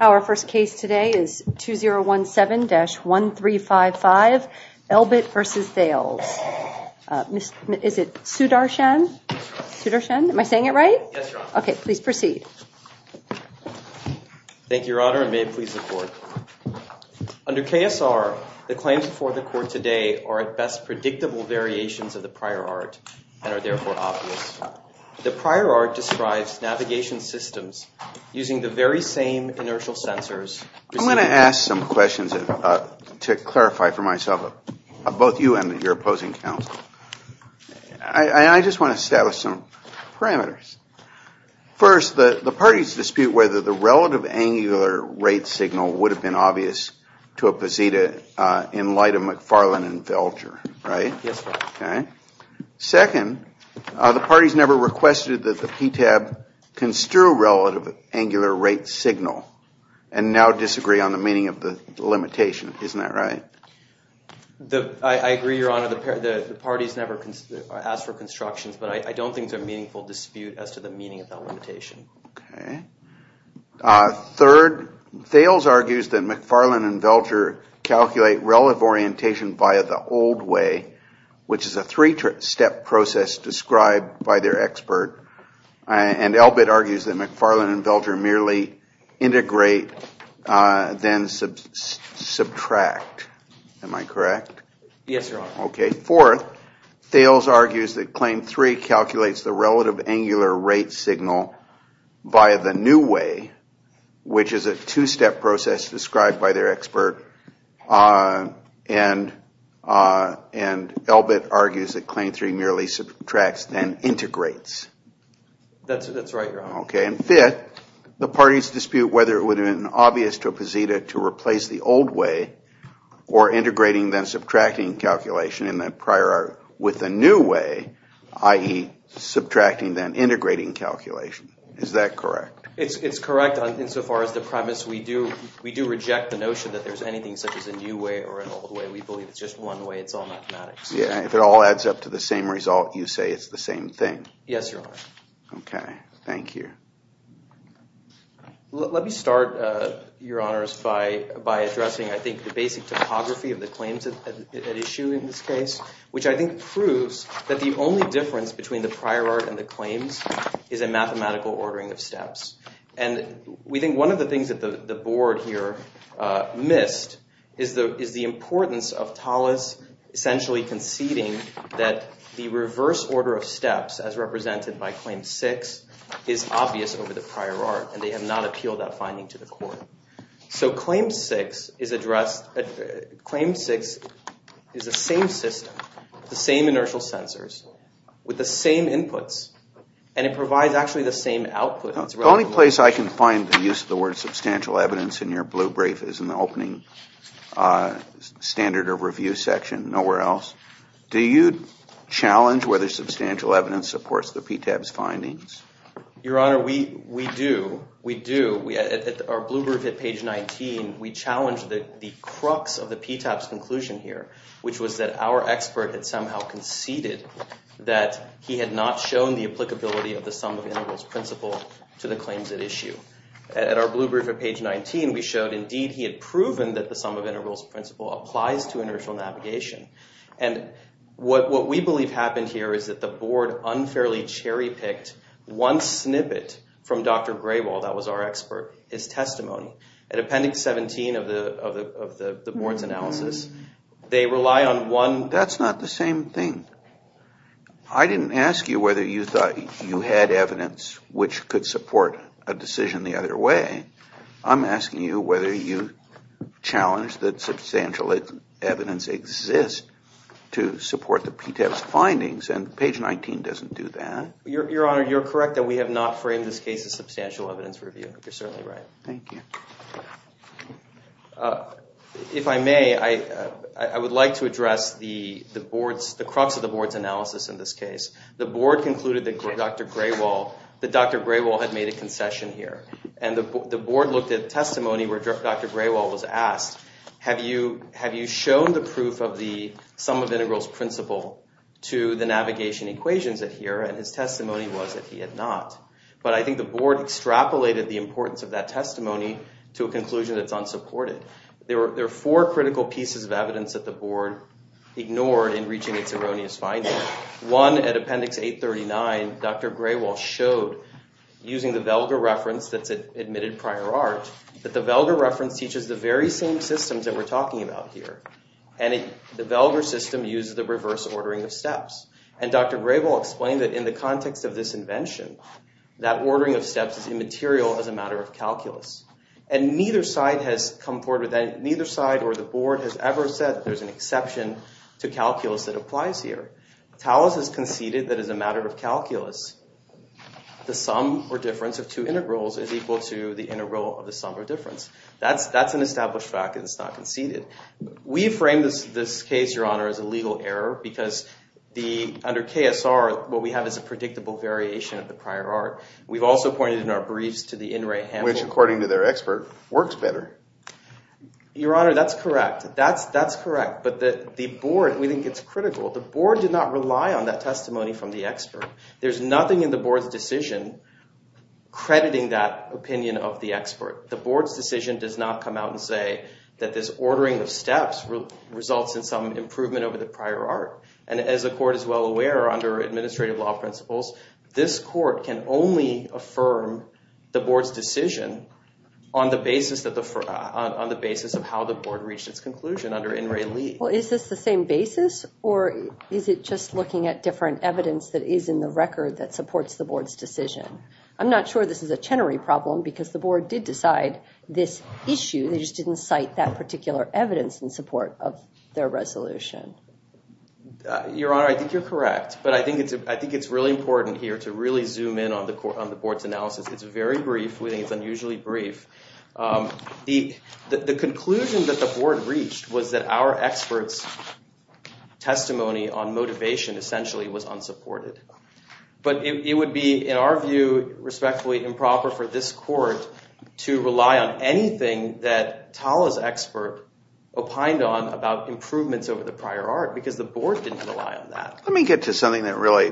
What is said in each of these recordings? Our first case today is 2017-1355 Elbit v. Thales. Is it Sudarshan? Am I saying it right? Okay, please proceed. Thank you, Your Honor, and may it please the Court. Under KSR, the claims before the Court today are at best predictable variations of the prior art and are therefore obvious. The prior art describes navigation systems using the very same inertial sensors. I'm going to ask some questions to clarify for myself, both you and your opposing counsel. I just want to establish some parameters. First, the parties dispute whether the relative angular rate signal would have been obvious to a posita in light of McFarlane and Velcher, right? Yes, Your Honor. Second, the parties never requested that the PTAB construe relative angular rate signal and now disagree on the meaning of the limitation. Isn't that right? I agree, Your Honor. The parties never asked for constructions, but I don't think there's a meaningful dispute as to the meaning of that limitation. Third, Thales argues that McFarlane and Velcher calculate relative orientation via the old way, which is a three-step process described by their expert, and Elbit argues that McFarlane and Velcher merely integrate then subtract. Am I correct? Yes, Your Honor. Fourth, Thales argues that Claim 3 calculates the relative angular rate signal via the new way, which is a two-step process described by their expert, and Elbit argues that Claim 3 merely subtracts then integrates. Fifth, the parties dispute whether it would have been obvious to a posita to replace the old way or integrating then subtracting calculation in the prior art with the new way, i.e. subtracting then integrating calculation. Is that correct? It's correct insofar as the premise we do reject the notion that there's anything such as a new way or an old way. We believe it's just one way. It's all mathematics. If it all adds up to the same result, you say it's the same thing. Yes, Your Honor. Okay, thank you. Let me start, Your Honors, by addressing, I think, the basic typography of the claims at issue in this case, which I think proves that the only difference between the prior art and the claims is a mathematical ordering of steps. And we think one of the things that the board here missed is the importance of Tallis essentially conceding that the reverse order of steps, as represented by Claim 6, is obvious over the prior art, and they have not appealed that finding to the court. So Claim 6 is a same system, the same inertial sensors, with the same inputs, and it provides actually the same output. The only place I can find the use of the word substantial evidence in your blue brief is in the opening standard of review section. Nowhere else. Do you challenge whether substantial evidence supports the PTAB's findings? Your Honor, we do. We do. Our blue brief at page 19, we challenge the crux of the PTAB's conclusion here, which was that our expert had somehow conceded that he had not shown the applicability of the sum of integrals principle to the claims at issue. At our blue brief at page 19, we showed, indeed, he had proven that the sum of integrals principle applies to inertial navigation. And what we believe happened here is that the board unfairly cherry-picked one snippet from Dr. Grayball, that was our expert, his testimony. At appendix 17 of the board's analysis, they rely on one- That's not the same thing. I didn't ask you whether you thought you had evidence which could support a decision the other way. I'm asking you whether you challenge that substantial evidence exists to support the PTAB's findings, and page 19 doesn't do that. Your Honor, you're correct that we have not framed this case as substantial evidence review. You're certainly right. Thank you. If I may, I would like to address the board's- the crux of the board's analysis in this case. The board concluded that Dr. Grayball had made a concession here. And the board looked at testimony where Dr. Grayball was asked, have you shown the proof of the sum of integrals principle to the navigation equations here? And his testimony was that he had not. But I think the board extrapolated the importance of that testimony to a conclusion that's unsupported. There are four critical pieces of evidence that the board ignored in reaching its erroneous findings. One, at appendix 839, Dr. Grayball showed, using the Velger reference that's admitted prior art, that the Velger reference teaches the very same systems that we're talking about here. And the Velger system uses the reverse ordering of steps. And Dr. Grayball explained that in the context of this invention, that ordering of steps is immaterial as a matter of calculus. And neither side has come forward with that. Neither side or the board has ever said there's an exception to calculus that applies here. Taos has conceded that as a matter of calculus, the sum or difference of two integrals is equal to the integral of the sum or difference. That's an established fact and it's not conceded. We frame this case, Your Honor, as a legal error because under KSR, what we have is a predictable variation of the prior art. We've also pointed in our briefs to the In Re Handbook. Which, according to their expert, works better. Your Honor, that's correct. That's correct. But the board, we think it's critical. The board did not rely on that testimony from the expert. The board's decision does not come out and say that this ordering of steps results in some improvement over the prior art. And as the court is well aware, under administrative law principles, this court can only affirm the board's decision on the basis of how the board reached its conclusion under In Re. Well, is this the same basis or is it just looking at different evidence that is in the record that supports the board's decision? I'm not sure this is a Chenery problem because the board did decide this issue. They just didn't cite that particular evidence in support of their resolution. Your Honor, I think you're correct. But I think it's really important here to really zoom in on the board's analysis. It's very brief. We think it's unusually brief. The conclusion that the board reached was that our expert's testimony on motivation essentially was unsupported. But it would be, in our view, respectfully improper for this court to rely on anything that Talha's expert opined on about improvements over the prior art because the board didn't rely on that. Let me get to something that really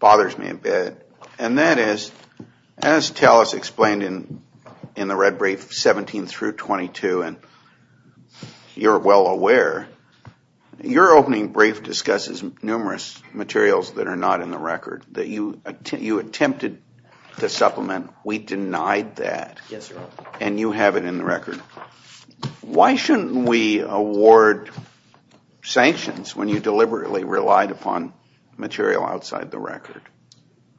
bothers me a bit. And that is, as Talha's explained in the red brief, 17 through 22, and you're well aware, your opening brief discusses numerous materials that are not in the record that you attempted to supplement. We denied that. Yes, Your Honor. And you have it in the record. Why shouldn't we award sanctions when you deliberately relied upon material outside the record?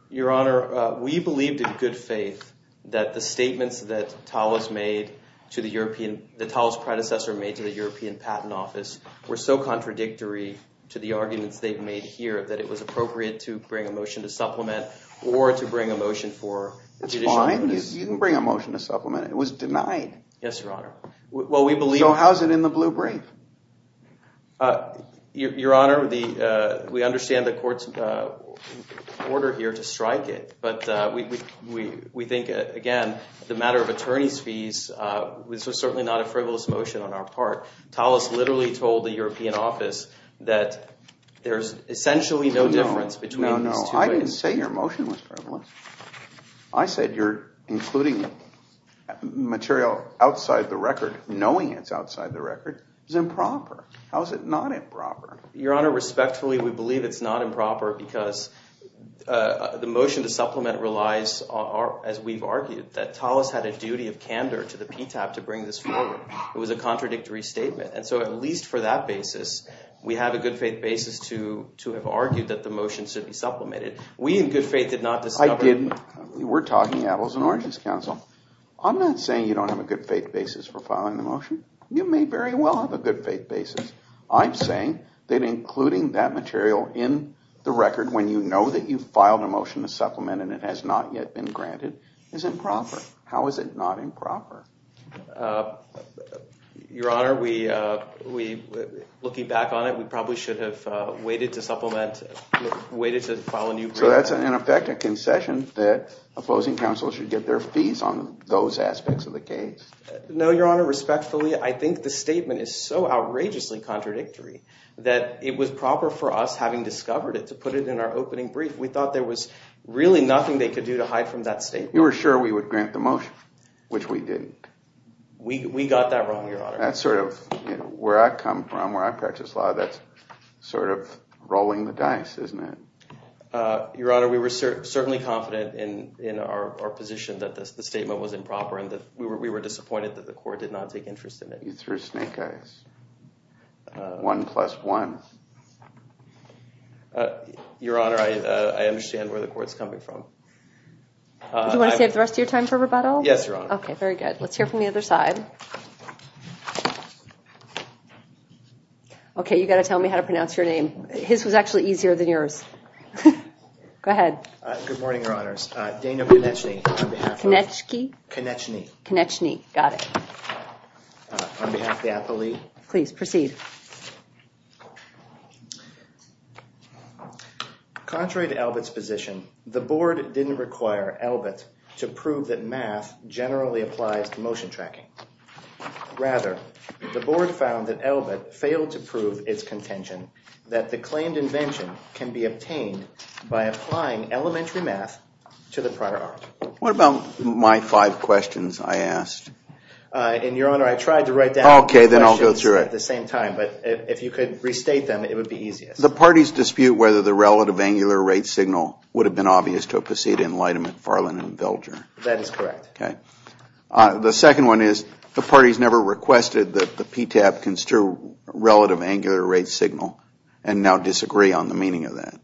Your Honor, we believed in good faith that the statements that Talha's made to the European – that Talha's predecessor made to the European Patent Office were so contradictory to the arguments they've made here that it was appropriate to bring a motion to supplement or to bring a motion for judicial – It's fine. You can bring a motion to supplement. It was denied. Yes, Your Honor. Well, we believe – So how's it in the blue brief? Your Honor, we understand the court's order here to strike it. But we think, again, the matter of attorney's fees, this was certainly not a frivolous motion on our part. Talha's literally told the European office that there's essentially no difference between these two things. No, no, no. I didn't say your motion was frivolous. I said you're including material outside the record, knowing it's outside the record, is improper. How is it not improper? Your Honor, respectfully, we believe it's not improper because the motion to supplement relies, as we've argued, that Talha's had a duty of candor to the PTAP to bring this forward. It was a contradictory statement. And so at least for that basis, we have a good-faith basis to have argued that the motion should be supplemented. We in good faith did not discover – I didn't. We're talking Apples and Oranges Council. I'm not saying you don't have a good-faith basis for filing the motion. You may very well have a good-faith basis. I'm saying that including that material in the record when you know that you've filed a motion to supplement and it has not yet been granted is improper. How is it not improper? Your Honor, looking back on it, we probably should have waited to file a new brief. So that's, in effect, a concession that opposing counsels should get their fees on those aspects of the case? No, Your Honor, respectfully, I think the statement is so outrageously contradictory that it was proper for us, having discovered it, to put it in our opening brief. We thought there was really nothing they could do to hide from that statement. You were sure we would grant the motion, which we didn't. We got that wrong, Your Honor. That's sort of – where I come from, where I practice law, that's sort of rolling the dice, isn't it? Your Honor, we were certainly confident in our position that the statement was improper and that we were disappointed that the court did not take interest in it. You threw snake eyes. One plus one. Your Honor, I understand where the court is coming from. Do you want to save the rest of your time for rebuttal? Yes, Your Honor. Okay, very good. Let's hear from the other side. Okay, you've got to tell me how to pronounce your name. His was actually easier than yours. Go ahead. Good morning, Your Honors. Dana Koneczny. Koneczny? Koneczny. Koneczny, got it. On behalf of the appellee. Please proceed. Contrary to Elbit's position, the Board didn't require Elbit to prove that math generally applies to motion tracking. Rather, the Board found that Elbit failed to prove its contention that the claimed invention can be obtained by applying elementary math to the prior art. What about my five questions I asked? And, Your Honor, I tried to write down the questions at the same time. Okay, then I'll go through it. But if you could restate them, it would be easiest. The parties dispute whether the relative angular rate signal would have been obvious to have preceded in light of McFarlane and Velger. That is correct. Okay. The second one is the parties never requested that the PTAB construe relative angular rate signal and now disagree on the meaning of that.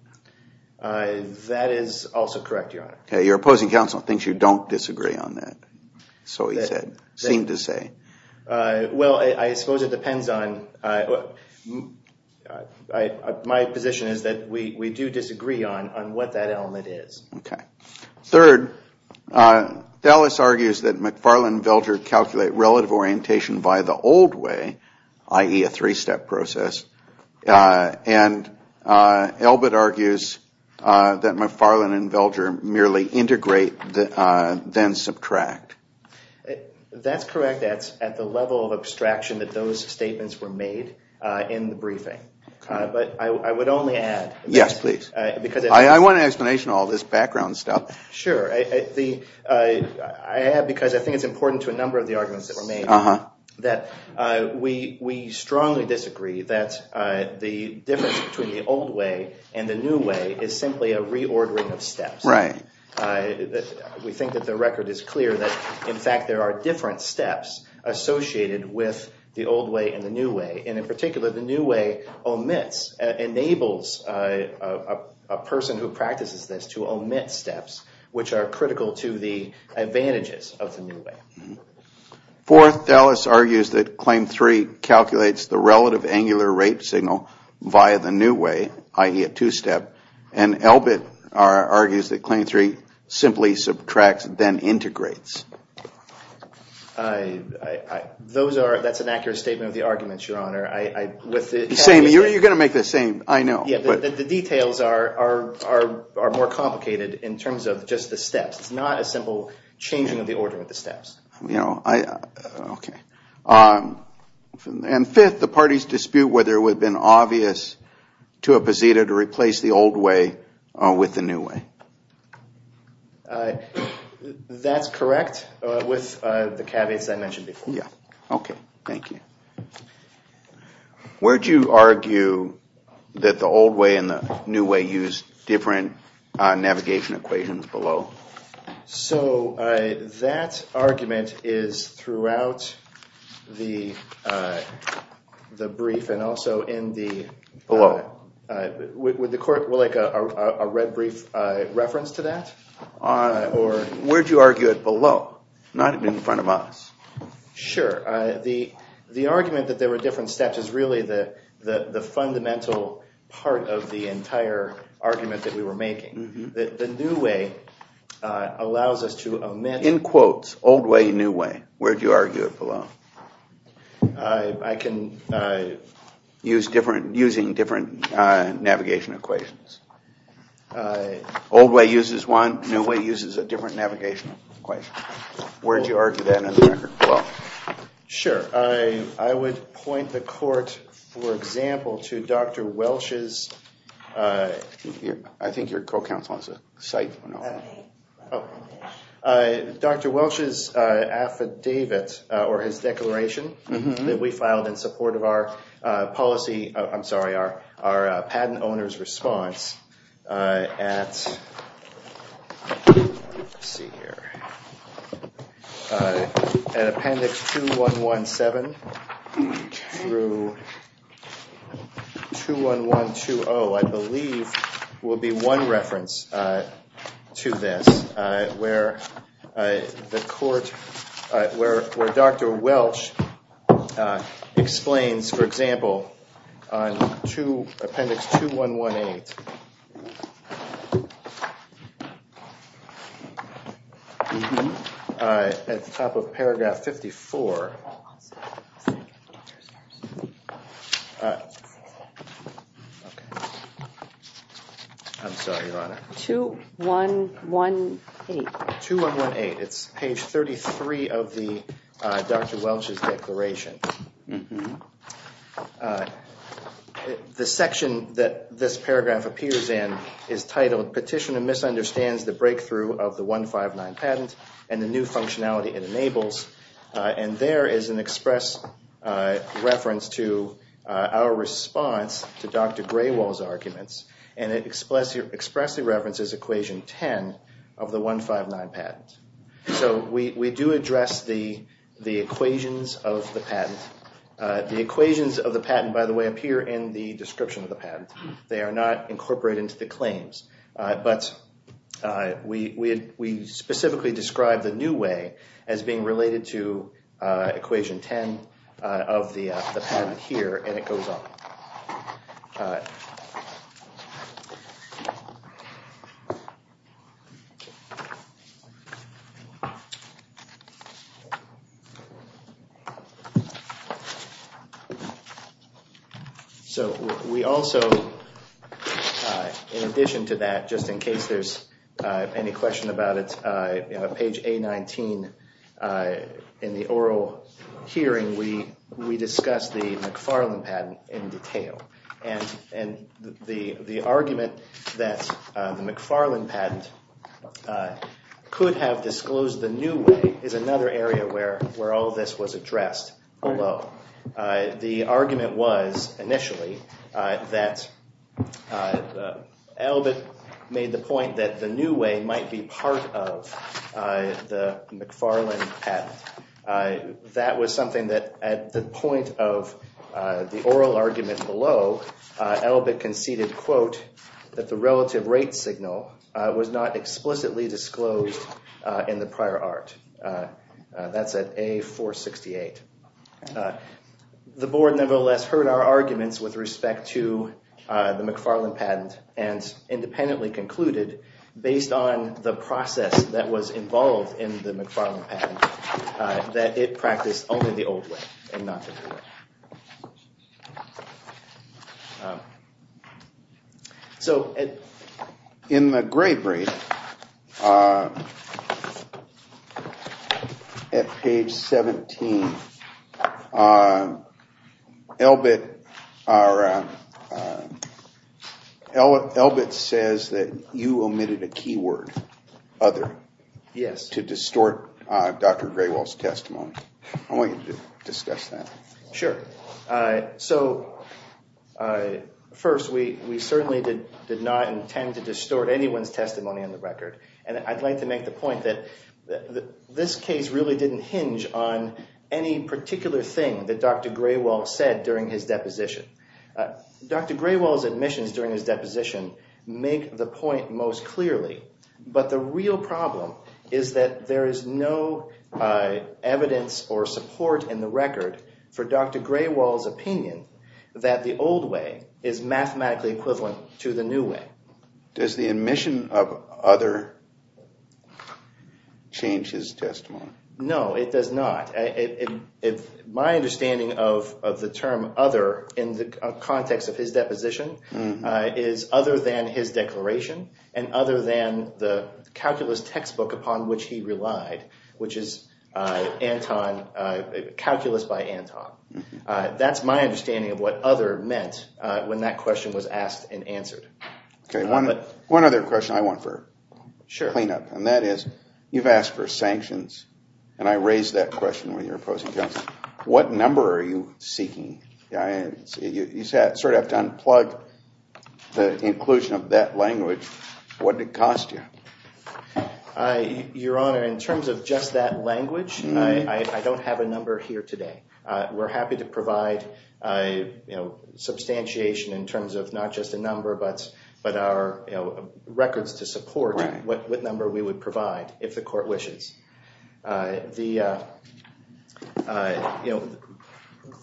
That is also correct, Your Honor. Okay, your opposing counsel thinks you don't disagree on that. So he said, seemed to say. Well, I suppose it depends on, my position is that we do disagree on what that element is. Okay. Third, Dallas argues that McFarlane and Velger calculate relative orientation by the old way, i.e., a three-step process. And Elbit argues that McFarlane and Velger merely integrate then subtract. That's correct. That's at the level of abstraction that those statements were made in the briefing. But I would only add. Yes, please. I want an explanation of all this background stuff. Sure. I add because I think it's important to a number of the arguments that were made. Uh-huh. That we strongly disagree that the difference between the old way and the new way is simply a reordering of steps. We think that the record is clear that, in fact, there are different steps associated with the old way and the new way. And in particular, the new way omits, enables a person who practices this to omit steps which are critical to the advantages of the new way. Fourth, Dallas argues that Claim 3 calculates the relative angular rate signal via the new way, i.e., a two-step. And Elbit argues that Claim 3 simply subtracts then integrates. I, I, I, those are, that's an accurate statement of the arguments, Your Honor. I, I, with it. Same. You're going to make the same. I know. Yeah, but the details are, are, are more complicated in terms of just the steps. It's not a simple changing of the order of the steps. You know, I, uh, okay. Um, and fifth, the parties dispute whether it would have been obvious to a posita to replace the old way with the new way. Uh, that's correct, uh, with, uh, the caveats I mentioned before. Yeah. Okay. Thank you. Where do you argue that the old way and the new way use different, uh, navigation equations below? So, uh, that argument is throughout the, uh, the brief and also in the, uh. Below. Would, would the court like a, a, a red brief, uh, reference to that? Uh, or. Where do you argue it below? Not in front of us. Sure. Uh, the, the argument that there were different steps is really the, the, the fundamental part of the entire argument that we were making. Mm-hmm. That the new way, uh, allows us to amend. In quotes, old way, new way. Where do you argue it below? I, I can, uh. Use different, using different, uh, navigation equations. Uh. Old way uses one, new way uses a different navigation equation. Where do you argue that in the record below? Sure. I, I would point the court, for example, to Dr. Welch's, uh. I think your co-counsel has a site. Oh. Uh, Dr. Welch's, uh, affidavit, uh, or his declaration. Mm-hmm. That we filed in support of our, uh, policy. I'm sorry. Our, our, uh, patent owner's response. Uh, at. Let's see here. Uh, an appendix 2117. Okay. Through. 21120. 21120, I believe, will be one reference, uh, to this. Uh, where, uh, the court, uh, where, where Dr. Welch, uh, explains, for example, uh, to appendix 2118. Mm-hmm. Uh, at the top of paragraph 54. Uh, okay. I'm sorry, Your Honor. 2118. 2118. It's page 33 of the, uh, Dr. Welch's declaration. Mm-hmm. Uh, the section that this paragraph appears in is titled, Petitioner Misunderstands the Breakthrough of the 159 Patent and the New Functionality it Enables. Uh, and there is an express, uh, reference to, uh, our response to Dr. Graywall's arguments. And it expressly, expressly references equation 10 of the 159 patent. So, we, we do address the, the equations of the patent. Uh, the equations of the patent, by the way, appear in the description of the patent. Mm-hmm. They are not incorporated into the claims. Uh, but, uh, we, we, we specifically describe the new way as being related to, uh, equation 10, uh, of the, uh, the patent here. And it goes on. Uh. Mm-hmm. So, we also, uh, in addition to that, just in case there's, uh, any question about it, uh, page A19, uh, in the oral hearing, we, we discuss the McFarland patent in detail. And, and the, the argument that, uh, the McFarland patent, uh, could have disclosed the new way is another area where, where all this was addressed below. Uh, the argument was initially, uh, that, uh, uh, Elbit made the point that the new way might be part of, uh, the McFarland patent. Uh, that was something that at the point of, uh, the oral argument below, uh, Elbit conceded, quote, that the relative rate signal, uh, was not explicitly disclosed, uh, in the prior art. Uh, uh, that's at A468. Uh, the board nevertheless heard our arguments with respect to, uh, the McFarland patent and independently concluded based on the process that was involved in the McFarland patent. Uh, that it practiced only the old way and not the new way. Uh, so, uh, in the grade rate, uh, at page 17, uh, Elbit, uh, uh, Elbit says that you omitted a key word, other. Yes. To distort, uh, Dr. Graywell's testimony. I want you to discuss that. Sure. Uh, so, uh, first, we, we certainly did, did not intend to distort anyone's testimony on the record. And I'd like to make the point that, that this case really didn't hinge on any particular thing that Dr. Graywell said during his deposition. Uh, Dr. Graywell's admissions during his deposition make the point most clearly. But the real problem is that there is no, uh, evidence or support in the record for Dr. Graywell's opinion that the old way is mathematically equivalent to the new way. Does the admission of other change his testimony? No, it does not. My understanding of, of the term other in the context of his deposition, uh, is other than his declaration and other than the calculus textbook upon which he relied, which is, uh, Anton, uh, Calculus by Anton. Uh, that's my understanding of what other meant, uh, when that question was asked and answered. Okay, one, one other question I want for cleanup. Sure. And that is, you've asked for sanctions. And I raised that question when you were opposing counsel. What number are you seeking? I, you, you sort of have to unplug the inclusion of that language. What did it cost you? I, Your Honor, in terms of just that language, I, I, I don't have a number here today. Uh, we're happy to provide, uh, you know, substantiation in terms of not just a number, but, but our, you know, records to support what, what number we would provide if the court wishes. Uh, the, uh, uh, you know,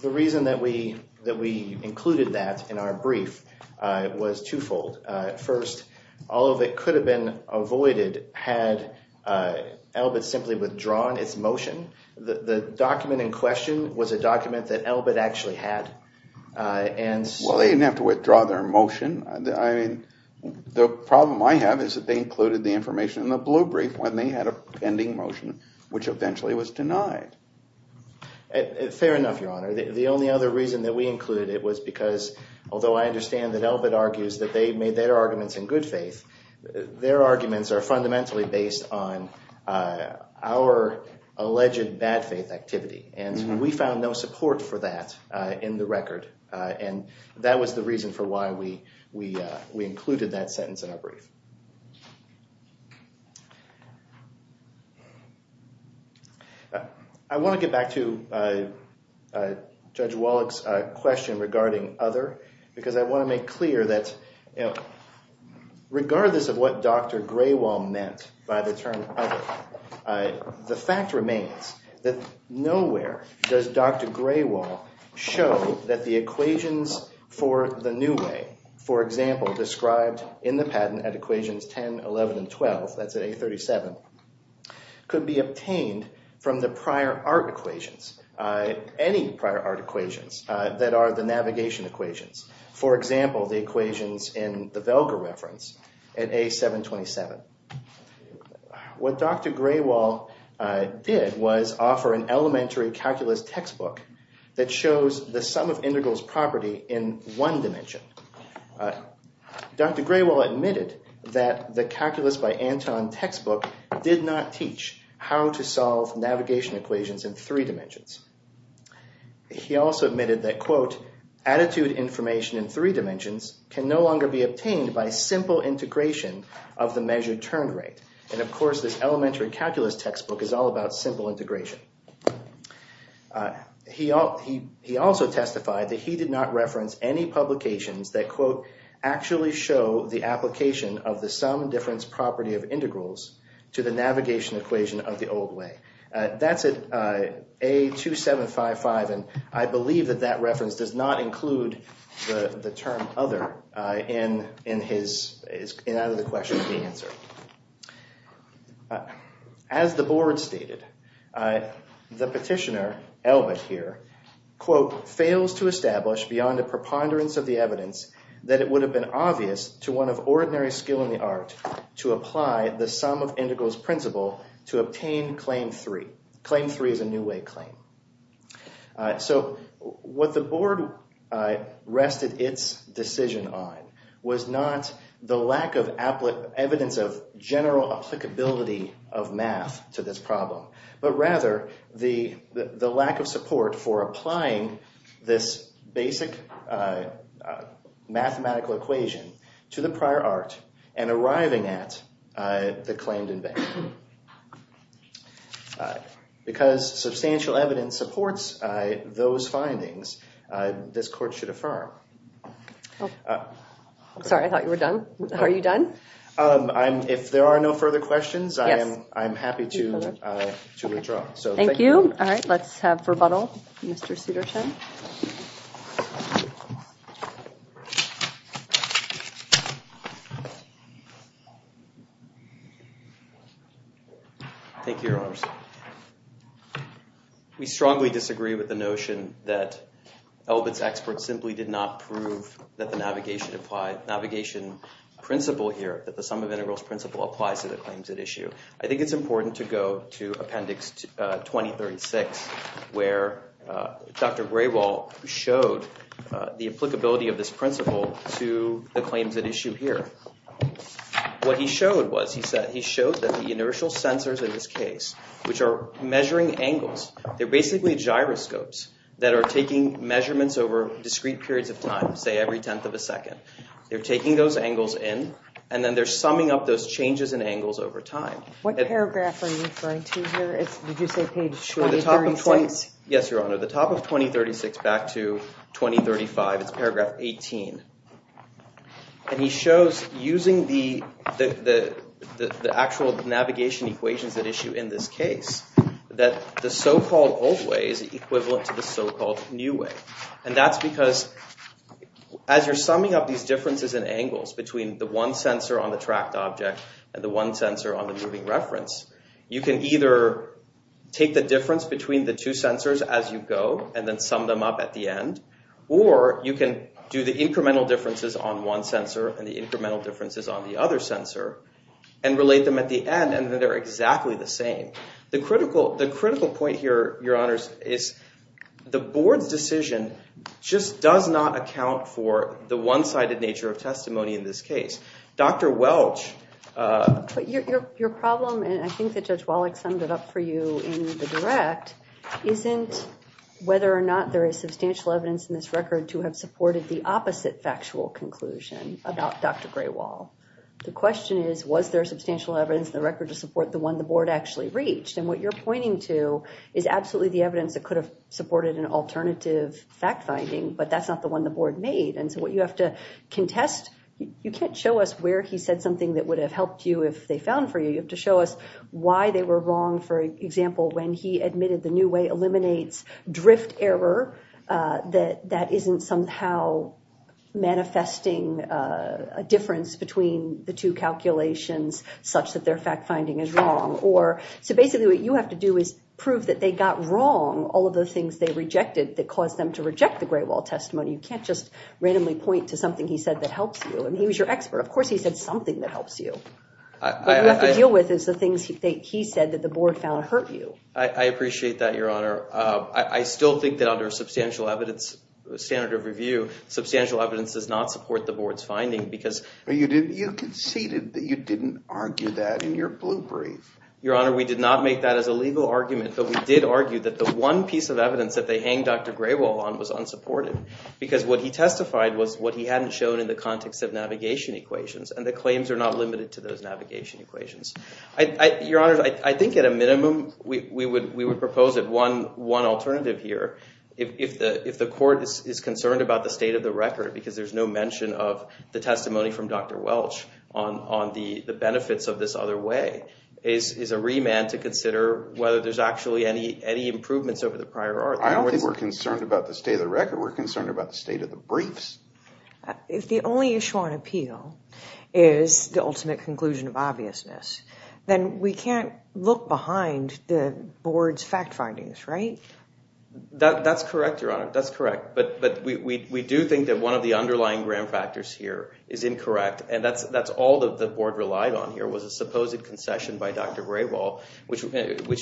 the reason that we, that we included that in our brief, uh, was twofold. Uh, first, all of it could have been avoided had, uh, Elbit simply withdrawn its motion. The, the document in question was a document that Elbit actually had, uh, and so. Well, they didn't have to withdraw their motion. I mean, the problem I have is that they included the information in the blue brief when they had a pending motion, which eventually was denied. Fair enough, Your Honor. The only other reason that we included it was because, although I understand that Elbit argues that they made their arguments in good faith, their arguments are fundamentally based on, uh, our alleged bad faith activity. And we found no support for that, uh, in the record. Uh, and that was the reason for why we, we, uh, we included that sentence in our brief. Uh, I want to get back to, uh, uh, Judge Wallach's, uh, question regarding other because I want to make clear that, you know, regardless of what Dr. Graywall meant by the term other, uh, the fact remains that nowhere does Dr. Graywall show that the equations for the new way. For example, described in the patent at equations 10, 11, and 12, that's at A37, could be obtained from the prior art equations, uh, any prior art equations, uh, that are the navigation equations. For example, the equations in the Velger reference at A727. What Dr. Graywall, uh, did was offer an elementary calculus textbook that shows the sum of integrals property in one dimension. Uh, Dr. Graywall admitted that the calculus by Anton textbook did not teach how to solve navigation equations in three dimensions. He also admitted that, quote, attitude information in three dimensions can no longer be obtained by simple integration of the measured turn rate. And, of course, this elementary calculus textbook is all about simple integration. Uh, he, he, he also testified that he did not reference any publications that, quote, actually show the application of the sum difference property of integrals to the navigation equation of the old way. Uh, that's at, uh, A2755, and I believe that that reference does not include the, the term other, uh, in, in his, in either the question or the answer. Uh, as the board stated, uh, the petitioner, Elbert here, quote, fails to establish beyond a preponderance of the evidence that it would have been obvious to one of ordinary skill in the art to apply the sum of integrals principle to obtain claim three. Claim three is a new way claim. Uh, so what the board, uh, rested its decision on was not the lack of applet evidence of general applicability of math to this problem, but rather the, the, the lack of support for applying this basic, uh, uh, mathematical equation to the prior art and arriving at, uh, the claimed invention. Uh, because substantial evidence supports, uh, those findings, uh, this court should affirm. Sorry, I thought you were done. Are you done? Um, I'm, if there are no further questions, I am, I'm happy to, uh, to withdraw. Thank you. All right. Let's have rebuttal. Mr. Sudarshan. Thank you, Your Honors. We strongly disagree with the notion that Elbert's expert simply did not prove that the navigation applied, navigation principle here, that the sum of integrals principle applies to the claims at issue. I think it's important to go to appendix, uh, 2036, where, uh, Dr. Graywall showed, uh, the applicability of this principle to the claims at issue here. What he showed was, he said, he showed that the inertial sensors in this case, which are measuring angles, they're basically gyroscopes that are taking measurements over discrete periods of time, say every tenth of a second. They're taking those angles in, and then they're summing up those changes in angles over time. What paragraph are you referring to here? Did you say page 2036? Yes, Your Honor. The top of 2036 back to 2035. It's paragraph 18. And he shows using the, the, the, the actual navigation equations at issue in this case, that the so-called old way is equivalent to the so-called new way. And that's because as you're summing up these differences in angles between the one sensor on the tracked object and the one sensor on the moving reference, you can either take the difference between the two sensors as you go and then sum them up at the end, or you can do the incremental differences on one sensor and the incremental differences on the other sensor and relate them at the end and they're exactly the same. The critical, the critical point here, Your Honors, is the board's decision just does not account for the one-sided nature of testimony in this case. Dr. Welch. Your problem, and I think that Judge Wallach summed it up for you in the direct, isn't whether or not there is substantial evidence in this record to have supported the opposite factual conclusion about Dr. Gray Wall. The question is, was there substantial evidence in the record to support the one the board actually reached? And what you're pointing to is absolutely the evidence that could have supported an alternative fact finding, but that's not the one the board made. And so what you have to contest, you can't show us where he said something that would have helped you if they found for you. You have to show us why they were wrong, for example, when he admitted the new way eliminates drift error that isn't somehow manifesting a difference between the two calculations such that their fact finding is wrong. So basically what you have to do is prove that they got wrong all of the things they rejected that caused them to reject the Gray Wall testimony. You can't just randomly point to something he said that helps you. And he was your expert. Of course he said something that helps you. What you have to deal with is the things that he said that the board found hurt you. I appreciate that, Your Honor. I still think that under a substantial evidence standard of review, substantial evidence does not support the board's finding because— You conceded that you didn't argue that in your blue brief. Your Honor, we did not make that as a legal argument, but we did argue that the one piece of evidence that they hang Dr. Gray Wall on was unsupported because what he testified was what he hadn't shown in the context of navigation equations, and the claims are not limited to those navigation equations. Your Honor, I think at a minimum we would propose that one alternative here, if the court is concerned about the state of the record because there's no mention of the testimony from Dr. Welch on the benefits of this other way, is a remand to consider whether there's actually any improvements over the prior article. I don't think we're concerned about the state of the record. We're concerned about the state of the briefs. If the only issue on appeal is the ultimate conclusion of obviousness, then we can't look behind the board's fact findings, right? That's correct, Your Honor. That's correct. But we do think that one of the underlying gram factors here is incorrect, and that's all that the board relied on here was a supposed concession by Dr. Gray Wall, which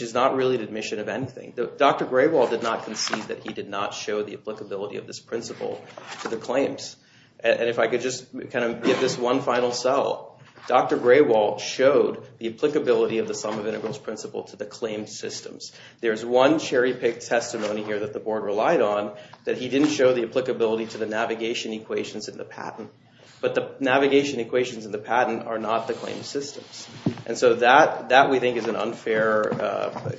is not really an admission of anything. Dr. Gray Wall did not concede that he did not show the applicability of this principle to the claims. And if I could just kind of give this one final sell, Dr. Gray Wall showed the applicability of the sum of integrals principle to the claim systems. There's one cherry-picked testimony here that the board relied on that he didn't show the applicability to the navigation equations in the patent, but the navigation equations in the patent are not the claim systems. And so that we think is an unfair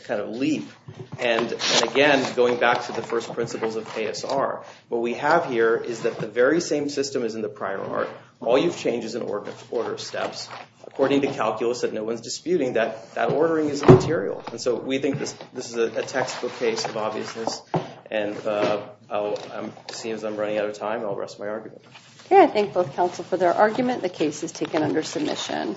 kind of leap. And again, going back to the first principles of ASR, what we have here is that the very same system as in the prior art, all you've changed is in order of steps. According to calculus that no one's disputing, that ordering is immaterial. And so we think this is a textbook case of obviousness, and it seems I'm running out of time. I'll rest my argument. Okay, I thank both counsel for their argument. The case is taken under submission.